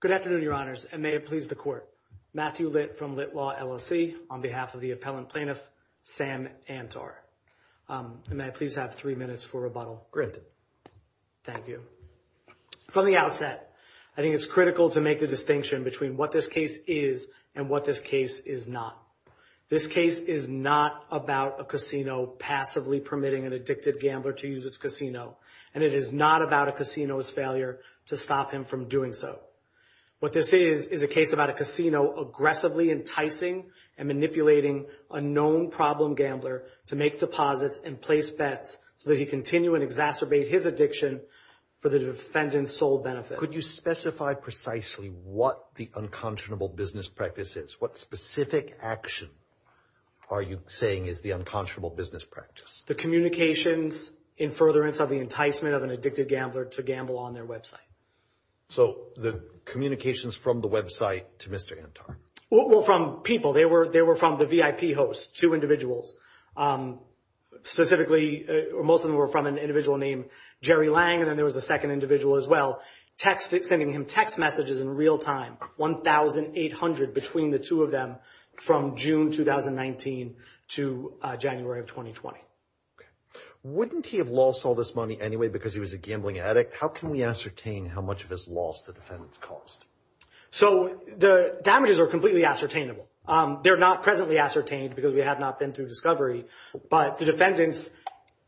Good afternoon, Your Honors, and may it please the Court. Matthew Litt from Litt Law LLC on behalf of the Appellant Plaintiff, Sam Antar. And may I please have three minutes for rebuttal. Granted. Thank you. From the outset, I think it's critical to make the distinction between what this case is and what this case is not. This case is not about a casino passively permitting an addicted gambler to use his casino. And it is not about a casino's failure to stop him from doing so. What this is, is a case about a casino aggressively enticing and manipulating a known problem gambler to make deposits and place bets so that he can continue and exacerbate his addiction for the defendant's sole benefit. Could you specify precisely what the unconscionable business practice is? What specific action are you saying is the unconscionable business practice? The communications in furtherance of the enticement of an addicted gambler to gamble on their website. So the communications from the website to Mr. Antar? Well, from people. They were from the VIP hosts, two individuals. Specifically, most of them were from an individual named Jerry Lang, and then there was a second individual as well. Text, sending him text messages in real time, 1,800 between the two of them from June 2019 to January of 2020. Okay. Wouldn't he have lost all this money anyway because he was a gambling addict? How can we ascertain how much of his loss the defendants caused? So the damages are completely ascertainable. They're not presently ascertained because we have not been through discovery, but the defendants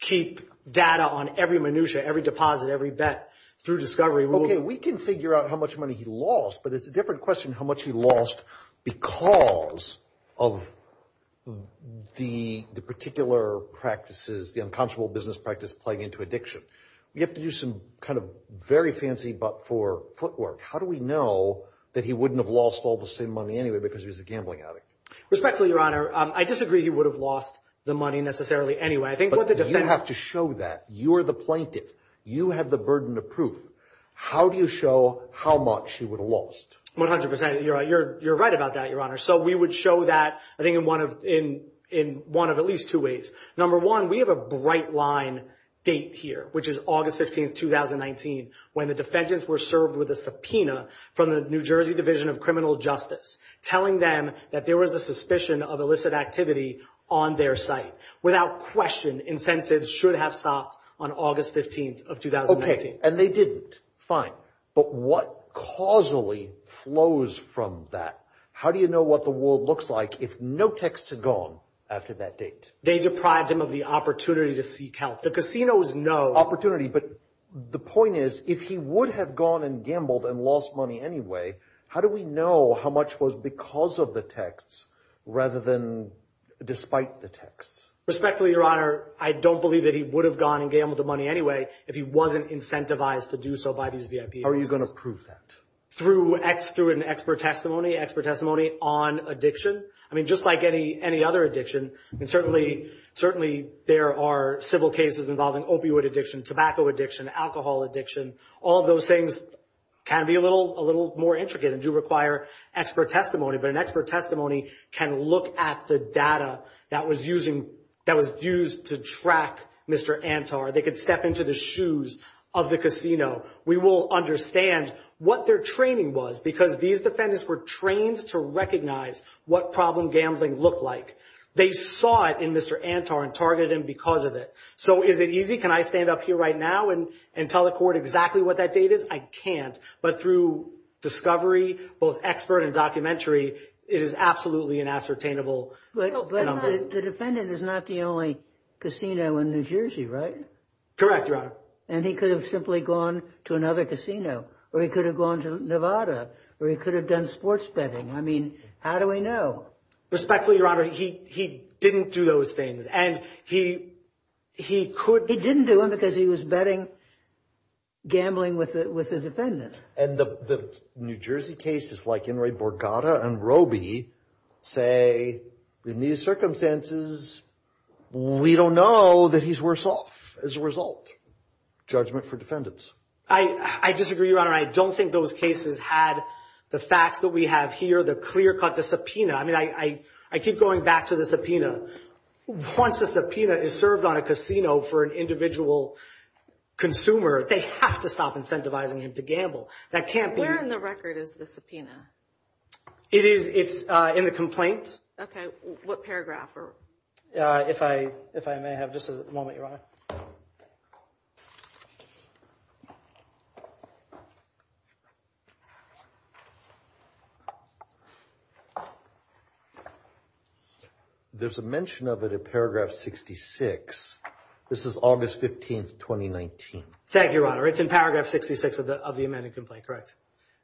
keep data on every minutia, every deposit, every bet through discovery. Okay. We can figure out how much money he lost, but it's a different question how much he lost because of the particular practices, the unconscionable business practice playing into addiction. We have to do some kind of very fancy but for footwork. How do we know that he wouldn't have lost all the same money anyway because he was a gambling addict? Respectfully, Your Honor, I disagree he would have lost the money necessarily anyway. I think- But you have to show that. You are the plaintiff. You have the burden of proof. How do you show how much he would have lost? 100%. You're right about that, Your Honor. So we would show that, I think, in one of at least two ways. Number one, we have a bright line date here, which is August 15th, 2019, when the defendants were served with a subpoena from the New Jersey Division of Criminal Justice telling them that there was a suspicion of illicit activity on their site. Without question, incentives should have stopped on August 15th of 2019. Okay. And they didn't. Fine. But what causally flows from that? How do you know what the world looks like if no texts are gone after that date? They deprived him of the opportunity to seek help. The casino is no- Opportunity. But the point is, if he would have gone and gambled and lost money anyway, how do we know how much was because of the texts rather than despite the texts? Respectfully, Your Honor, I don't believe that he would have gone and gambled the money anyway if he wasn't incentivized to do so by these VIPs. How are you going to prove that? Through an expert testimony, expert testimony on addiction. I mean, just like any other addiction, and certainly there are civil cases involving opioid addiction, tobacco addiction, alcohol addiction. All of those things can be a little more intricate and do require expert testimony. But an expert testimony can look at the data that was used to track Mr. Antar. They could step into the shoes of the casino. We will understand what their training was because these defendants were trained to recognize what problem gambling looked like. They saw it in Mr. Antar and targeted him because of it. So is it easy? Can I stand up here right now and tell the it is absolutely unassertainable. But the defendant is not the only casino in New Jersey, right? Correct, Your Honor. And he could have simply gone to another casino or he could have gone to Nevada or he could have done sports betting. I mean, how do we know? Respectfully, Your Honor, he didn't do those things and he could. He didn't do it because he was betting gambling with the defendant. And the New Jersey cases like Enri Borgata and Roby say, in these circumstances, we don't know that he's worse off as a result. Judgment for defendants. I disagree, Your Honor. I don't think those cases had the facts that we have here, the clear cut, the subpoena. I mean, I keep going back to the subpoena. Once a subpoena is served on a casino for an individual consumer, they have to stop incentivizing him to gamble. That can't be. Where in the record is the subpoena? It is in the complaint. Okay. What paragraph? If I may have just a moment, Your Honor. There's a mention of it in paragraph 66. This is August 15th, 2019. Thank you, Your Honor. It's in paragraph 66 of the amended complaint, correct?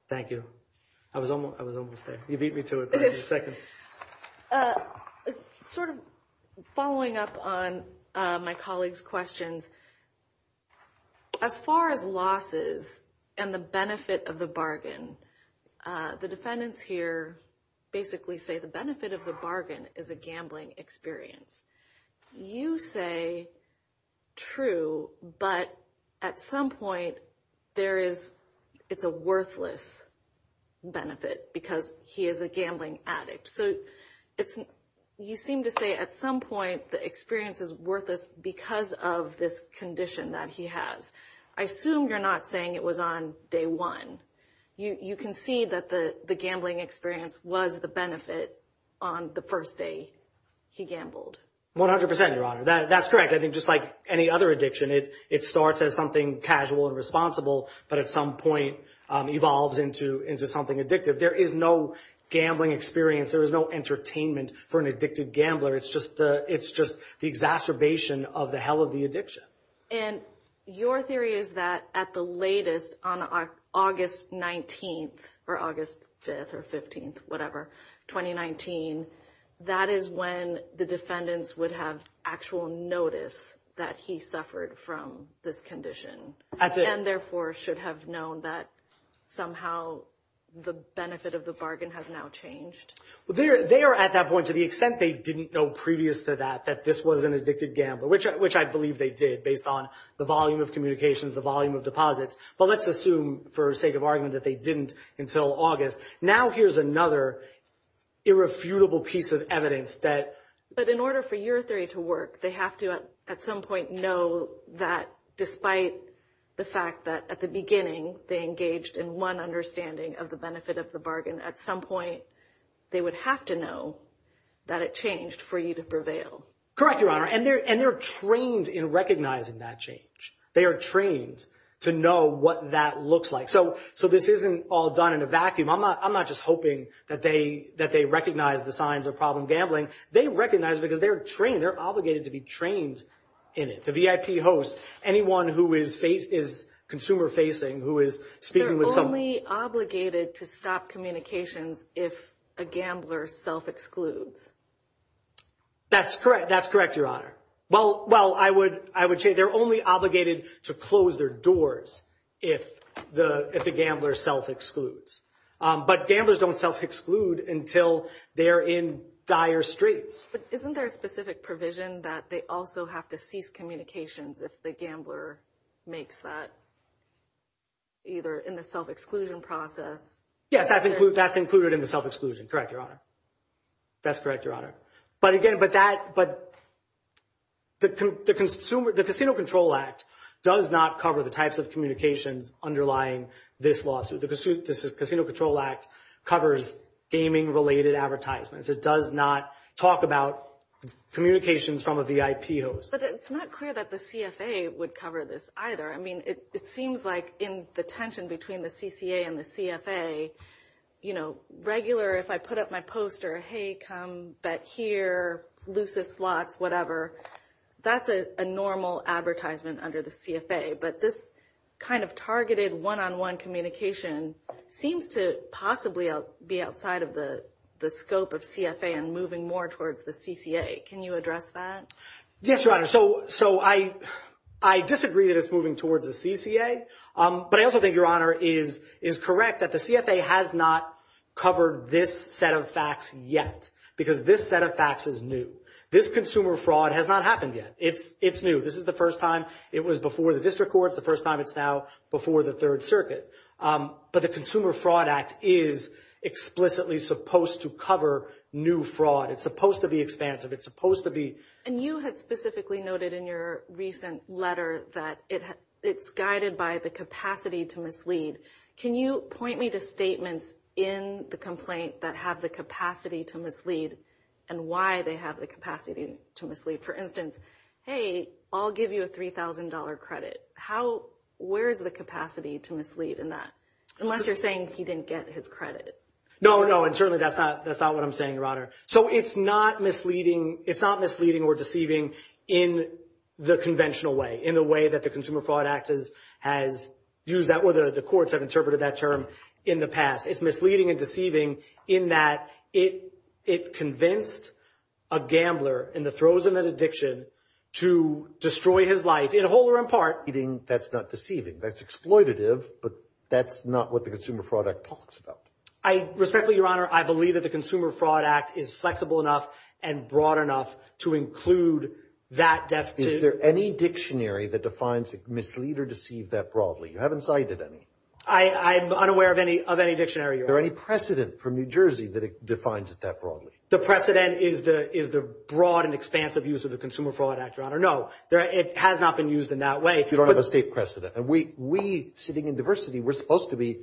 Thank you. I was almost there. You beat me to it by a few seconds. Okay. Sort of following up on my colleague's questions, as far as losses and the benefit of the bargain, the defendants here basically say the benefit of the bargain is a gambling experience. You say true, but at some point, it's a worthless benefit because he is a gambling addict. You seem to say at some point, the experience is worthless because of this condition that he has. I assume you're not saying it was on day one. You can see that the gambling experience was the benefit on the first day he gambled. 100%, Your Honor. That's correct. I think just like any other addiction, it starts as something casual and responsible, but at some point, evolves into something addictive. There is no gambling experience. There is no entertainment for an addicted gambler. It's just the exacerbation of the hell of the addiction. Your theory is that at the latest on August 19th or August 5th or 15th, whatever, 2019, that is when the defendants would have actual notice that he suffered from this condition and therefore should have known that somehow the benefit of the bargain has now changed. They are at that point to the extent they didn't know previous to that, that this was an addicted gambler, which I believe they did based on the volume of communications, the volume of deposits, but let's assume for sake of argument that they didn't until August. Now, here's another irrefutable piece of evidence that- But in order for your theory to work, they have to at some point know that despite the fact that at the beginning, they engaged in one understanding of the benefit of the bargain. At some point, they would have to know that it changed for you to prevail. Correct, Your Honor. They're trained in recognizing that change. They are trained to know what that looks like. This isn't all done in a vacuum. I'm not just hoping that they recognize the signs of problem gambling. They recognize it because they're trained. They're obligated to be trained in it. The VIP hosts, anyone who is consumer-facing, who is speaking with someone- They're only obligated to stop communications if a gambler self-excludes. That's correct. That's correct, Your Honor. Well, I would say they're only obligated to close their if the gambler self-excludes. But gamblers don't self-exclude until they're in dire straits. But isn't there a specific provision that they also have to cease communications if the gambler makes that, either in the self-exclusion process- Yes, that's included in the self-exclusion. Correct, Your Honor. That's correct, Your Honor. But again, the Casino Control Act does not cover the types of communications underlying this lawsuit. The Casino Control Act covers gaming-related advertisements. It does not talk about communications from a VIP host. But it's not clear that the CFA would cover this either. I mean, it seems like in the tension between the CCA and the CFA, you know, regular, if I put up my poster, hey, come bet here, lucis slots, whatever, that's a normal advertisement under the CFA. But this kind of targeted one-on-one communication seems to possibly be outside of the scope of CFA and moving more towards the CCA. Can you address that? Yes, Your Honor. So I disagree that it's moving towards the CCA. But I also think, Your Honor, is correct that the CFA has not covered this set of facts yet because this set of facts is new. This consumer fraud has not happened yet. It's new. This is the first time it was before the district courts, the first time it's now before the Third Circuit. But the Consumer Fraud Act is explicitly supposed to cover new fraud. It's supposed to be expansive. It's supposed to be- And you had specifically noted in your recent letter that it's guided by the capacity to mislead. Can you point me to statements in the complaint that have the capacity to mislead and why they have the capacity to mislead? For instance, hey, I'll give you a $3,000 credit. How, where's the capacity to mislead in that? Unless you're saying he didn't get his credit. No, no. And certainly that's not what I'm saying, Your Honor. So it's not misleading, it's not misleading or deceiving in the conventional way, in the way that the Consumer Fraud Act has used that or the courts have interpreted that term in the past. It's misleading and deceiving in that it convinced a gambler in the throes of an addiction to destroy his life in whole or in part. Misleading, that's not deceiving. That's exploitative, but that's not what the Consumer Fraud Act talks about. I respectfully, Your Honor, I believe that the to include that depth. Is there any dictionary that defines mislead or deceive that broadly? You haven't cited any. I'm unaware of any, of any dictionary. Is there any precedent from New Jersey that defines it that broadly? The precedent is the, is the broad and expansive use of the Consumer Fraud Act, Your Honor. No, it has not been used in that way. You don't have a state precedent. And we, we sitting in diversity, we're supposed to be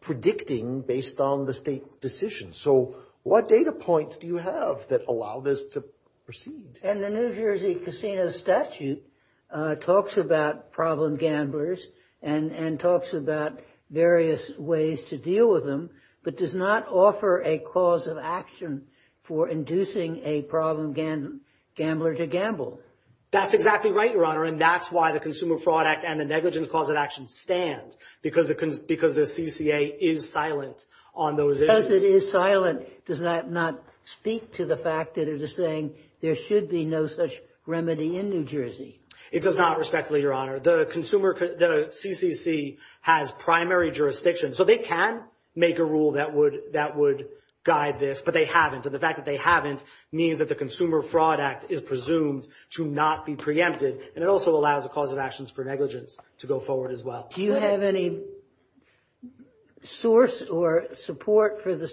predicting based on the state decision. So what data points do you have that allow this to proceed? And the New Jersey Casino Statute talks about problem gamblers and talks about various ways to deal with them, but does not offer a cause of action for inducing a problem gambler to gamble. That's exactly right, Your Honor. And that's why the Consumer Fraud Act and the negligence cause of action stand because the, because the CCA is silent on those issues. Because it is silent, does that not speak to the fact that it is saying there should be no such remedy in New Jersey? It does not, respectfully, Your Honor. The consumer, the CCC has primary jurisdiction. So they can make a rule that would, that would guide this, but they haven't. And the fact that they haven't means that the Consumer Fraud Act is presumed to not be preempted. And it also allows a cause of actions for negligence to go forward as well. Do you have any source or support for the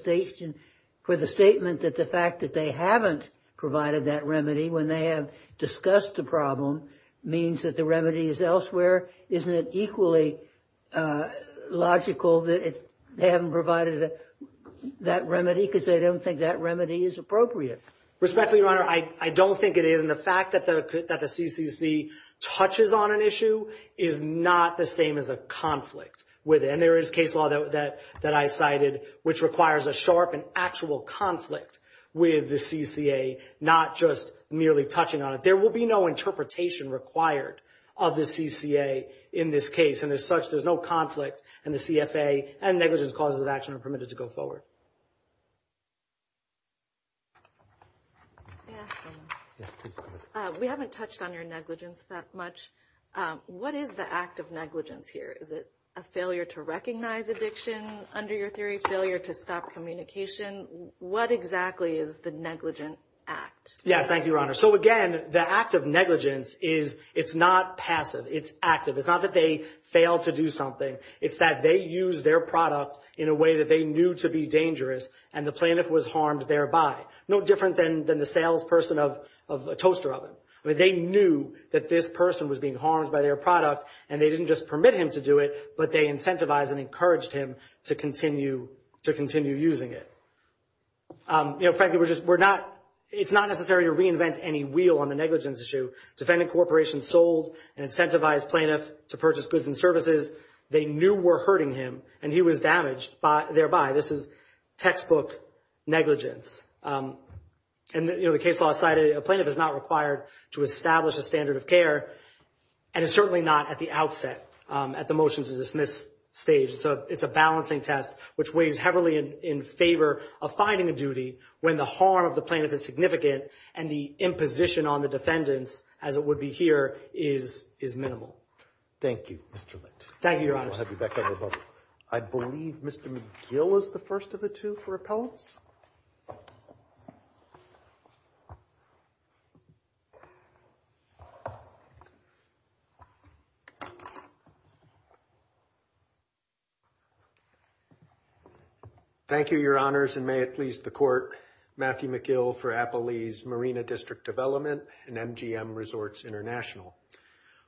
statement that the fact that they haven't provided that remedy when they have discussed the problem means that the remedy is elsewhere? Isn't it equally logical that they haven't provided that remedy because they don't think that remedy is appropriate? Respectfully, Your Honor, I, I don't think it is. And the fact that the, that the CCC touches on an issue is not the same as a conflict with it. And there is case law that, that, that I cited, which requires a sharp and actual conflict with the CCA, not just merely touching on it. There will be no interpretation required of the CCA in this case. And as such, there's no conflict and the CFA and negligence causes of action are permitted to go forward. I ask, we haven't touched on your negligence that much. What is the act of negligence here? Is it a failure to recognize addiction under your theory, failure to stop communication? What exactly is the negligent act? Yes. Thank you, Your Honor. So again, the act of negligence is, it's not passive, it's active. It's not that they fail to do something. It's that they use their product in a way that they knew to be dangerous and the plaintiff was harmed thereby. No different than, than the salesperson of, of a toaster oven. I mean, they knew that this person was being harmed by their product and they didn't just permit him to do it, but they incentivized and encouraged him to continue, to continue using it. You know, frankly, we're just, we're not, it's not necessary to reinvent any wheel on the negligence issue. Defending corporations sold and incentivized plaintiff to purchase goods and services they knew were hurting him and he was damaged by, thereby. This is textbook negligence. And you know, the case law cited a plaintiff is not required to establish a standard of care and it's certainly not at the outset, at the motion to dismiss stage. So it's a balancing test, which weighs heavily in favor of finding a duty when the harm of the plaintiff is significant and the imposition on the defendants, as it would be here, is, is minimal. Thank you, Mr. Litt. Thank you, Your Honor. I'll have you back up above. I believe Mr. McGill is the first of the two for appellants. Thank you, Your Honors. And may it please the court, Matthew McGill for Appalee's Marina District Development and MGM Resorts International.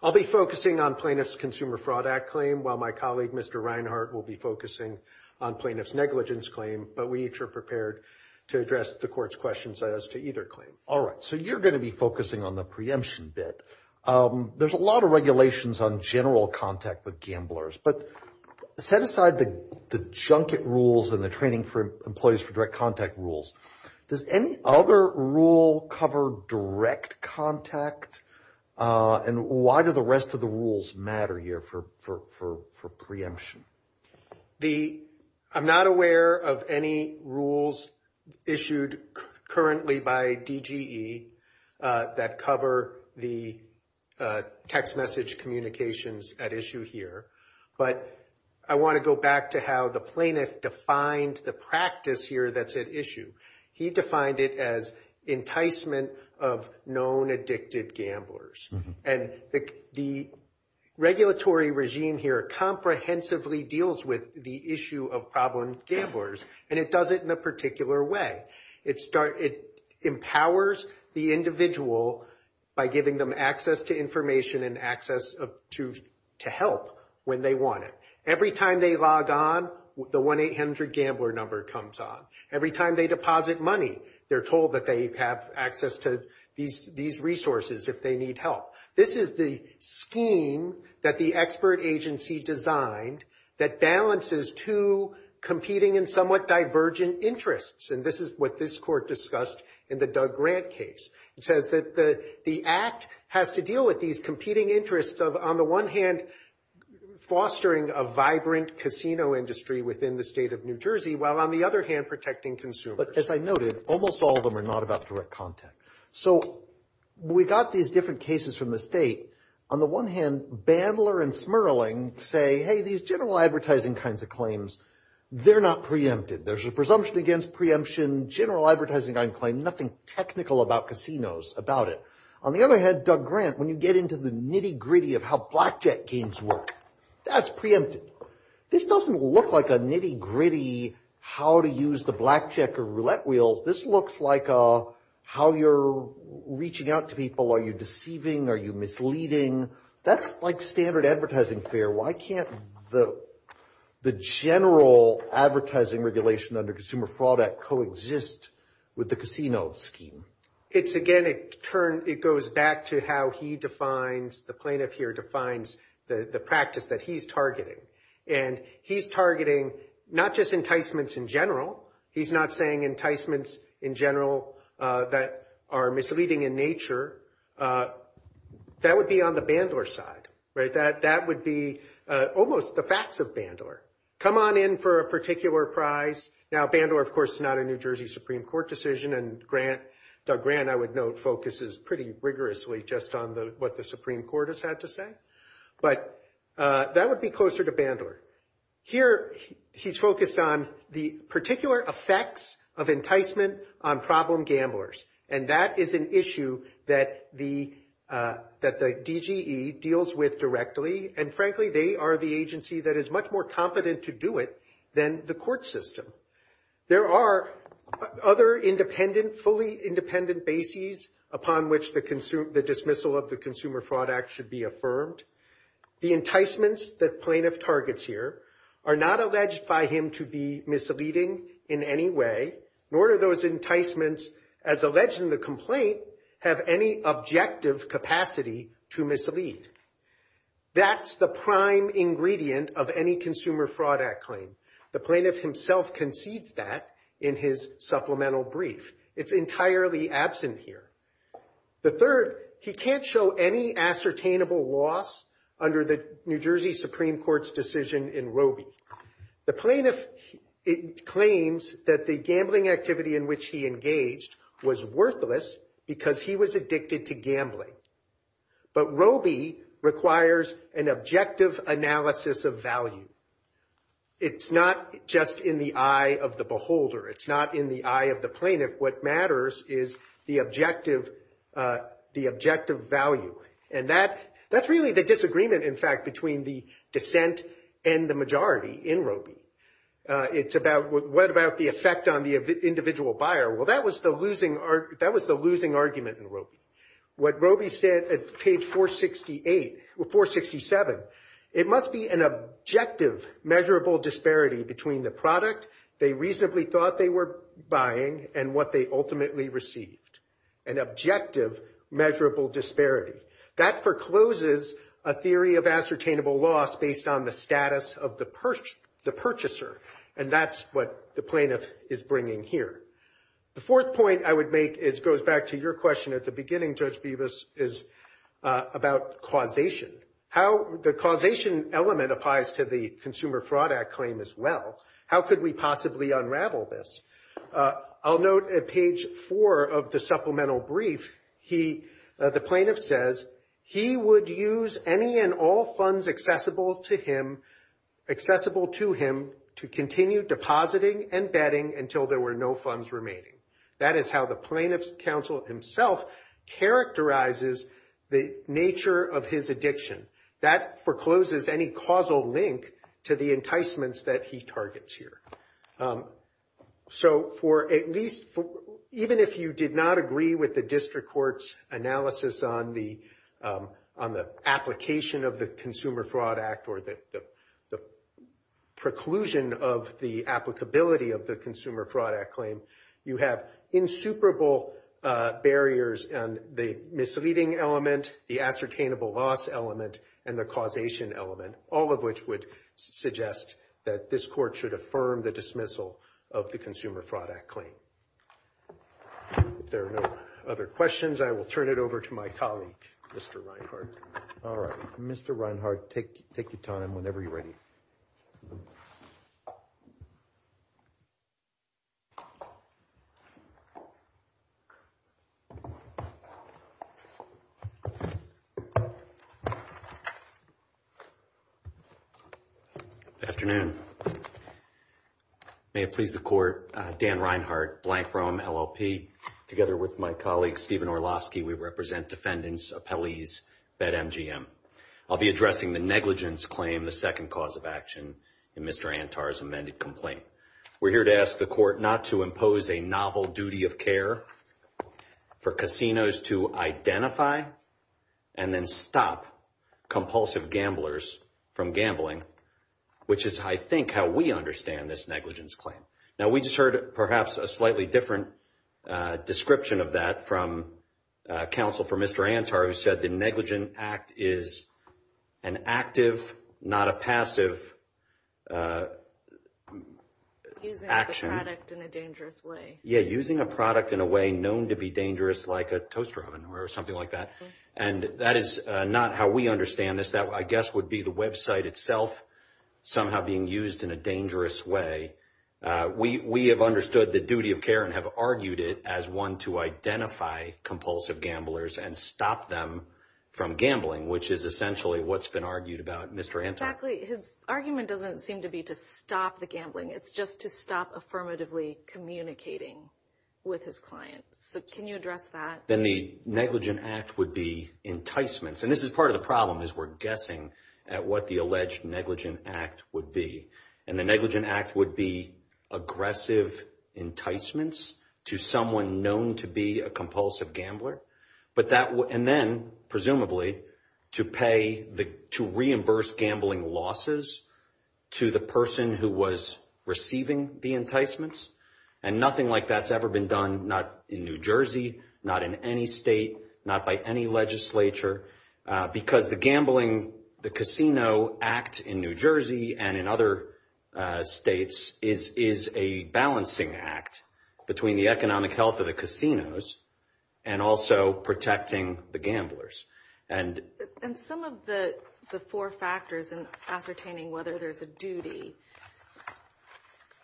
I'll be focusing on plaintiff's Consumer Fraud Act claim, while my colleague, Mr. Reinhart, will be focusing on plaintiff's negligence claim, but we each are prepared to answer any questions you may have about the plaintiff's negligence to address the court's questions as to either claim. All right. So you're going to be focusing on the preemption bit. There's a lot of regulations on general contact with gamblers, but set aside the, the junket rules and the training for employees for direct contact rules. Does any other rule cover direct contact? And why do the rest of the rules matter here for, for, for, for preemption? The, I'm not aware of any rules issued currently by DGE that cover the text message communications at issue here, but I want to go back to how the plaintiff defined the practice here that's at issue. He defined it as enticement of known addicted gamblers. And the, the regulatory regime comprehensively deals with the issue of problem gamblers, and it does it in a particular way. It start, it empowers the individual by giving them access to information and access to, to help when they want it. Every time they log on, the 1-800 gambler number comes on. Every time they deposit money, they're told that they have access to these, these resources if they need help. This is the scheme that the expert agency designed that balances two competing and somewhat divergent interests. And this is what this court discussed in the Doug Grant case. It says that the, the act has to deal with these competing interests of, on the one hand, fostering a vibrant casino industry within the state of New Jersey, while on the other hand, protecting consumers. But as I noted, almost all of them are not about direct contact. So we got these different cases from the state. On the one hand, Bandler and Smerling say, hey, these general advertising kinds of claims, they're not preempted. There's a presumption against preemption, general advertising claim, nothing technical about casinos about it. On the other hand, Doug Grant, when you get into the nitty gritty of how blackjack games work, that's preempted. This doesn't look like a nitty gritty how to use the blackjack or roulette wheels. This looks like a, how you're reaching out to people. Are you deceiving? Are you misleading? That's like standard advertising fare. Why can't the, the general advertising regulation under Consumer Fraud Act coexist with the casino scheme? It's again, it turns, it goes back to how he defines, the plaintiff here defines the, the practice that he's targeting. And he's targeting not just enticements in general. He's not saying enticements in general that are misleading in nature. That would be on the Bandler side, right? That, that would be almost the facts of Bandler. Come on in for a particular prize. Now Bandler, of course, is not a New Jersey Supreme Court decision and Grant, Doug Grant, I would note, focuses pretty rigorously just on the, what the Supreme Court has answered to Bandler. Here, he's focused on the particular effects of enticement on problem gamblers. And that is an issue that the, that the DGE deals with directly. And frankly, they are the agency that is much more competent to do it than the court system. There are other independent, fully independent bases upon which the dismissal of the Consumer Fraud Act should be affirmed. The enticements that plaintiff targets here are not alleged by him to be misleading in any way, nor do those enticements, as alleged in the complaint, have any objective capacity to mislead. That's the prime ingredient of any Consumer Fraud Act claim. The plaintiff himself concedes that in his supplemental brief. It's entirely absent here. The third, he can't show any ascertainable loss under the New Jersey Supreme Court's decision in Robie. The plaintiff claims that the gambling activity in which he engaged was worthless because he was addicted to gambling. But Robie requires an objective analysis of value. It's not just in the eye of the beholder. It's not in the eye of the plaintiff. What matters is the objective, the objective value. And that, that's really the disagreement, in fact, between the dissent and the majority in Robie. It's about what about the effect on the individual buyer? Well, that was the losing, that was the losing argument in Robie. What Robie said at page 468, or 467, it must be an objective measurable disparity between the product they reasonably thought they were buying and what they ultimately received. An objective measurable disparity. That forecloses a theory of ascertainable loss based on the status of the person, the purchaser. And that's what the plaintiff is bringing here. The fourth point I goes back to your question at the beginning, Judge Bevis, is about causation. How the causation element applies to the Consumer Fraud Act claim as well. How could we possibly unravel this? I'll note at page four of the supplemental brief, he, the plaintiff says, he would use any and all funds accessible to him, accessible to him, to continue depositing and betting until there were no funds remaining. That is how the plaintiff's counsel himself characterizes the nature of his addiction. That forecloses any causal link to the enticements that he targets here. So for at least, even if you did not agree with the district court's analysis on the application of the Consumer Fraud Act or the preclusion of the applicability of the Consumer Fraud Act claim, you have insuperable barriers and the misleading element, the ascertainable loss element, and the causation element, all of which would suggest that this court should affirm the dismissal of the Consumer Fraud Act claim. If there are no other questions, I will turn it over to my colleague, Mr. Reinhart. All right, Mr. Reinhart, take your time whenever you're ready. Good afternoon. May it please the court, Dan Reinhart, Blank Roam, LLP. Together with my colleague, Stephen Orlovsky, we represent defendants, appellees, BetMGM. I'll be addressing the negligence claim, the second cause of action in Mr. Antar's amended complaint. We're here to ask the court not to impose a novel duty of care for casinos to identify and then stop compulsive gamblers from gambling, which is, I think, how we understand this negligence claim. Now, we just heard, perhaps, a slightly different description of that from counsel for Mr. Antar, who said the Act is an active, not a passive action. Using a product in a dangerous way. Yeah, using a product in a way known to be dangerous, like a toaster oven or something like that. And that is not how we understand this. That, I guess, would be the website itself somehow being used in a dangerous way. We have understood the duty of care and have argued it as one to identify compulsive gamblers and stop them from gambling, which is essentially what's been argued about Mr. Antar. Exactly. His argument doesn't seem to be to stop the gambling. It's just to stop affirmatively communicating with his clients. So, can you address that? Then the Negligent Act would be enticements. And this is part of the problem, is we're guessing at what the alleged Negligent Act would be. And the Negligent Act would be aggressive enticements to someone known to be a compulsive gambler. And then, presumably, to reimburse gambling losses to the person who was receiving the enticements. And nothing like that's ever been done, not in New Jersey, not in any state, not by any legislature. Because the gambling, the Casino Act in New Jersey and in other states, is a balancing act between the economic health of the casinos and also protecting the gamblers. And some of the four factors in ascertaining whether there's a duty,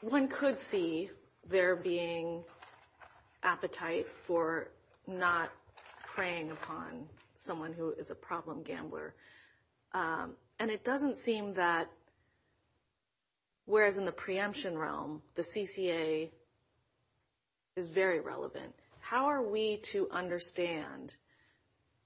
one could see there being appetite for not preying upon someone who is a problem gambler. And it doesn't seem that, whereas in the preemption realm, the CCA is very relevant. How are we to understand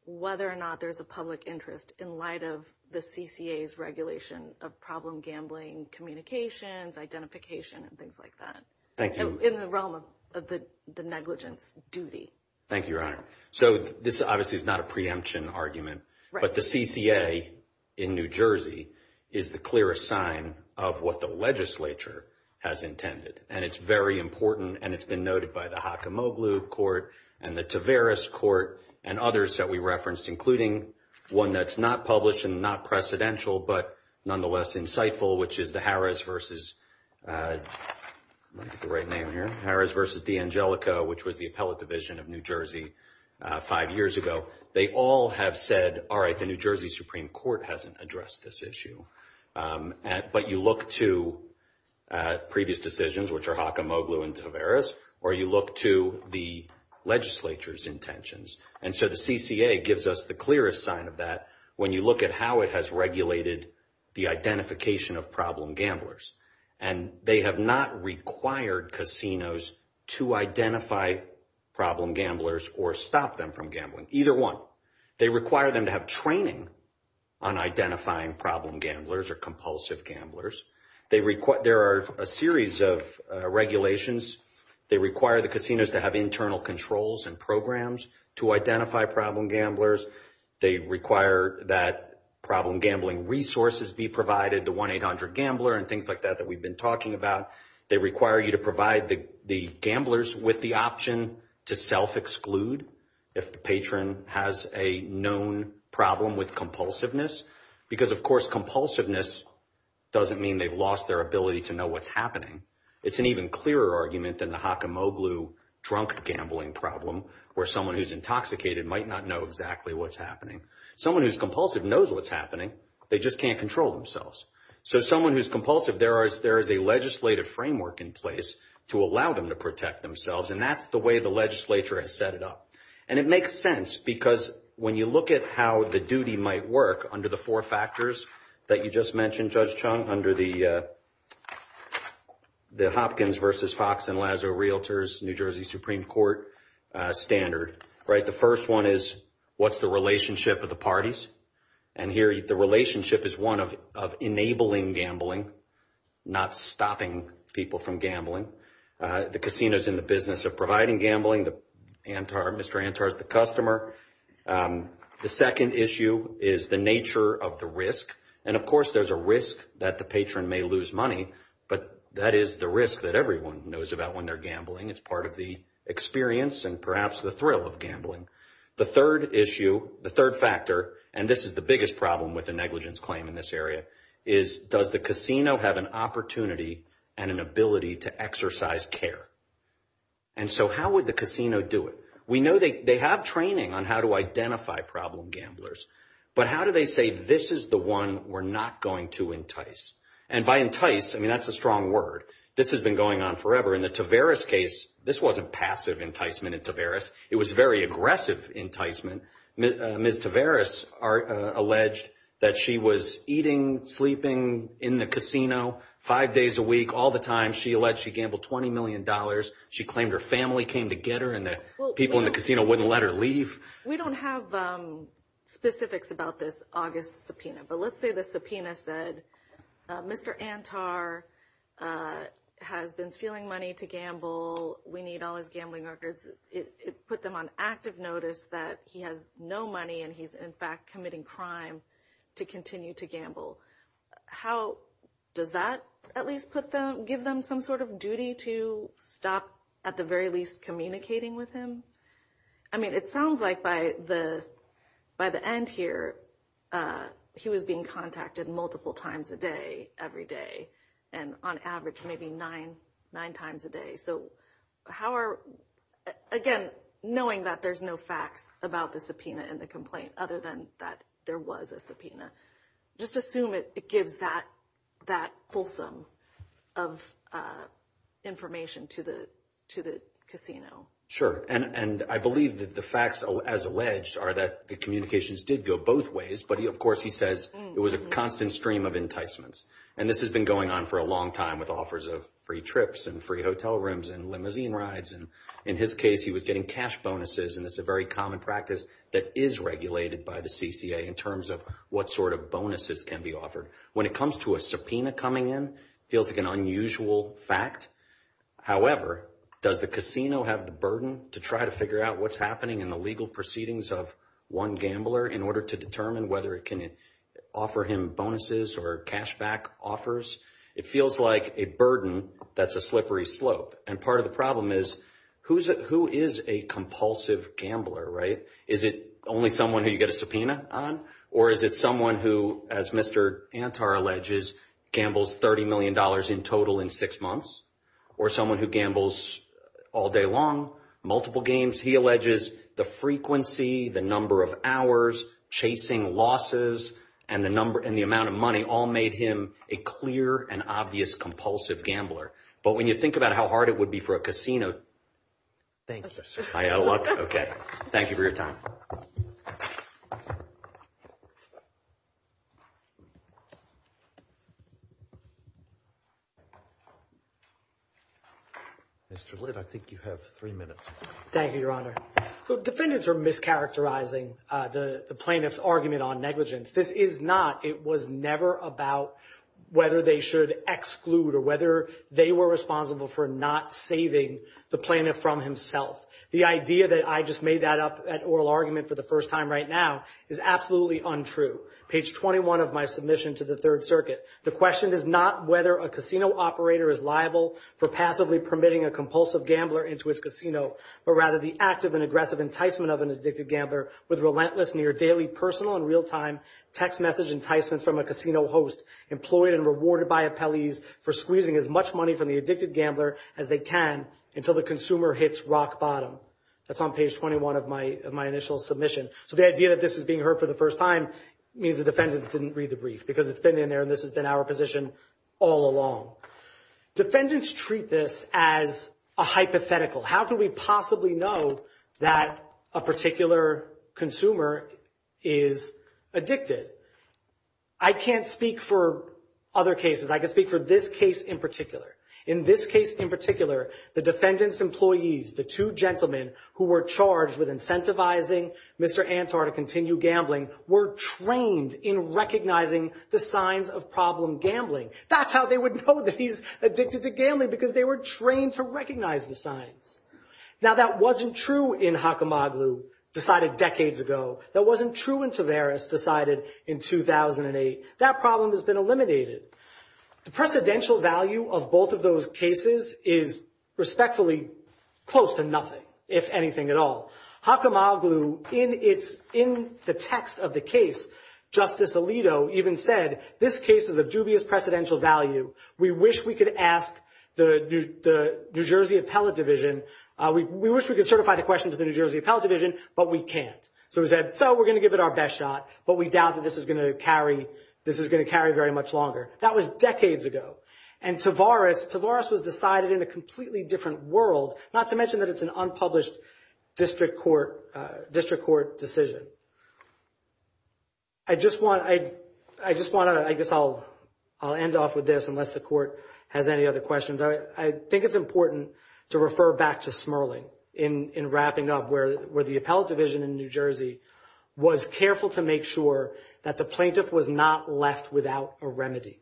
whether or not there's a public interest in light of the CCA's regulation of problem gambling, communications, identification, and things like that? Thank you. In the realm of the negligence duty. Thank you, Your Honor. So this obviously is not a preemption argument, but the CCA in New Jersey is the clearest sign of what the legislature has intended. And it's very important, and it's been noted by the Hockamoglou Court and the Tavares Court and others that we referenced, including one that's not published and not precedential, but nonetheless insightful, which is the Harris versus, let me get the right name here, Harris versus D'Angelico, which was the appellate division of New Jersey five years ago. They all have said, all right, the New Jersey Supreme Court hasn't addressed this issue. But you look to previous decisions, which are Hockamoglou and Tavares, or you look to the legislature's intentions. And so the CCA gives us the clearest sign of that when you look at how it has regulated the identification of problem gamblers. And they have not required casinos to identify problem gamblers or stop them from gambling, either one. They require them to have training on identifying problem gamblers or compulsive gamblers. There are a series of regulations. They require the casinos to have internal controls and programs to identify problem gamblers. They require that problem gambling resources be provided, the 1-800-GAMBLER and things like that, that we've been talking about. They require you to provide the gamblers with the option to self-exclude if the patron has a known problem with compulsiveness. Because, of course, compulsiveness doesn't mean they've lost their ability to know what's happening. It's an even clearer argument than the Hockamoglou drunk gambling problem, where someone who's intoxicated might not know exactly what's happening. Someone who's compulsive knows what's happening. They just can't control themselves. So someone who's compulsive, there is a legislative framework in place to allow them to protect themselves. And that's the way the legislature has set it up. And it makes sense because when you look at how the duty might work under the four factors that you just mentioned, Judge Chung, under the Hopkins v. Fox & Lazo Realtors New Jersey Supreme Court standard, right, the first one is what's the relationship of the and here the relationship is one of enabling gambling, not stopping people from gambling. The casino is in the business of providing gambling. Mr. Antar is the customer. The second issue is the nature of the risk. And of course, there's a risk that the patron may lose money, but that is the risk that everyone knows about when they're gambling. It's part of the experience and perhaps the thrill of gambling. The third issue, the third factor, and this is the biggest problem with a negligence claim in this area, is does the casino have an opportunity and an ability to exercise care? And so how would the casino do it? We know they have training on how to identify problem gamblers, but how do they say this is the one we're not going to entice? And by entice, I mean, that's a strong word. This has been going on forever. In the Taveras case, this wasn't passive enticement in Taveras. It was very aggressive enticement. Ms. Taveras, alleged that she was eating, sleeping in the casino five days a week all the time. She alleged she gambled $20 million. She claimed her family came to get her and the people in the casino wouldn't let her leave. We don't have specifics about this August subpoena, but let's say the subpoena said, Mr. Antar has been stealing money to gamble. We need all his gambling records. It put them on active notice that he has no money and he's in fact committing crime to continue to gamble. How does that at least give them some sort of duty to stop at the very least communicating with him? I mean, it sounds like by the end here, he was being contacted multiple times a day, every day, and on average, maybe nine times a day. So how are, again, knowing that there's no facts about the subpoena and the complaint other than that there was a subpoena, just assume it gives that fulsome of information to the casino. Sure. And I believe that the facts as alleged are that the communications did go both ways, but of course he says it was a constant stream of enticements. And this has been going on for a long time with offers of free trips and free hotel rooms and limousine rides. And in his case, he was getting cash bonuses. And this is a very common practice that is regulated by the CCA in terms of what sort of bonuses can be offered. When it comes to a subpoena coming in, it feels like an unusual fact. However, does the casino have the burden to try to figure out what's happening in the legal proceedings of one gambler in order to determine whether it can offer him bonuses or cash back offers? It feels like a burden that's a slippery slope. And part of the problem is who is a compulsive gambler, right? Is it only someone who you get a subpoena on, or is it someone who, as Mr. Antar alleges, gambles $30 million in total in six months, or someone who gambles all day long, multiple games? He alleges the frequency, the number of hours, chasing losses, and the number and the amount of money all made him a clear and obvious compulsive gambler. But when you think about how hard it would be for a casino... Thank you. Okay. Thank you for your time. Mr. Lidd, I think you have three minutes. Thank you, Your Honor. So defendants are discharacterizing the plaintiff's argument on negligence. This is not, it was never about whether they should exclude or whether they were responsible for not saving the plaintiff from himself. The idea that I just made that up at oral argument for the first time right now is absolutely untrue. Page 21 of my submission to the Third Circuit. The question is not whether a casino operator is liable for passively permitting a compulsive gambler into his casino, but rather the active and aggressive enticement of an addicted gambler with relentless near daily personal and real-time text message enticements from a casino host employed and rewarded by appellees for squeezing as much money from the addicted gambler as they can until the consumer hits rock bottom. That's on page 21 of my initial submission. So the idea that this is being heard for the first time means the defendants didn't read the brief because it's been in there and this has been our position all along. Defendants treat this as a hypothetical. How can we possibly know that a particular consumer is addicted? I can't speak for other cases. I can speak for this case in particular. In this case in particular, the defendant's employees, the two gentlemen who were charged with incentivizing Mr. Antar to continue gambling were trained in recognizing the signs of problem gambling. That's how they would know that he's addicted to gambling, because they were trained to recognize the signs. Now that wasn't true in Hakamoglu, decided decades ago. That wasn't true in Tavares, decided in 2008. That problem has been eliminated. The precedential value of both of those cases is respectfully close to nothing, if anything at all. Hakamoglu, in the text of the case, Justice Alito even said, this case is of dubious precedential value. We wish we could ask the New Jersey Appellate Division, we wish we could certify the question to the New Jersey Appellate Division, but we can't. So he said, so we're going to give it our best shot, but we doubt that this is going to carry very much longer. That was decades ago. And Tavares was decided in a completely different world, not to mention that it's an unpublished district court decision. I just want to, I guess I'll end off with this, unless the court has any other questions. I think it's important to refer back to Smerling in wrapping up, where the Appellate Division in New Jersey was careful to make sure that the plaintiff was not left without a remedy,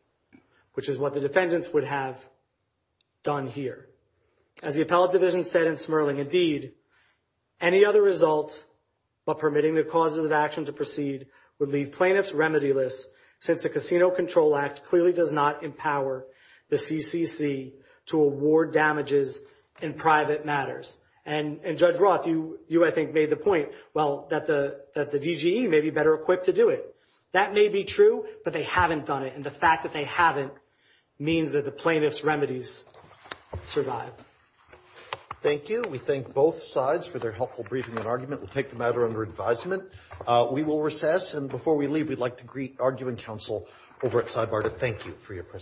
which is what the defendants would have done here. As the Appellate Division said in Smerling, indeed, any other result but permitting the causes of action to proceed would leave plaintiffs remedy-less, since the Casino Control Act clearly does not empower the CCC to award damages in private matters. And Judge Roth, you I think made the point, well, that the DGE may be better equipped to do it. That may be true, but they haven't done it, and the fact that they haven't means that the plaintiff's remedies survive. Thank you. We thank both sides for their helpful briefing and argument. We'll take the matter under advisement. We will recess, and before we leave, we'd like to greet arguing counsel over at Sidebar to thank you for your presence.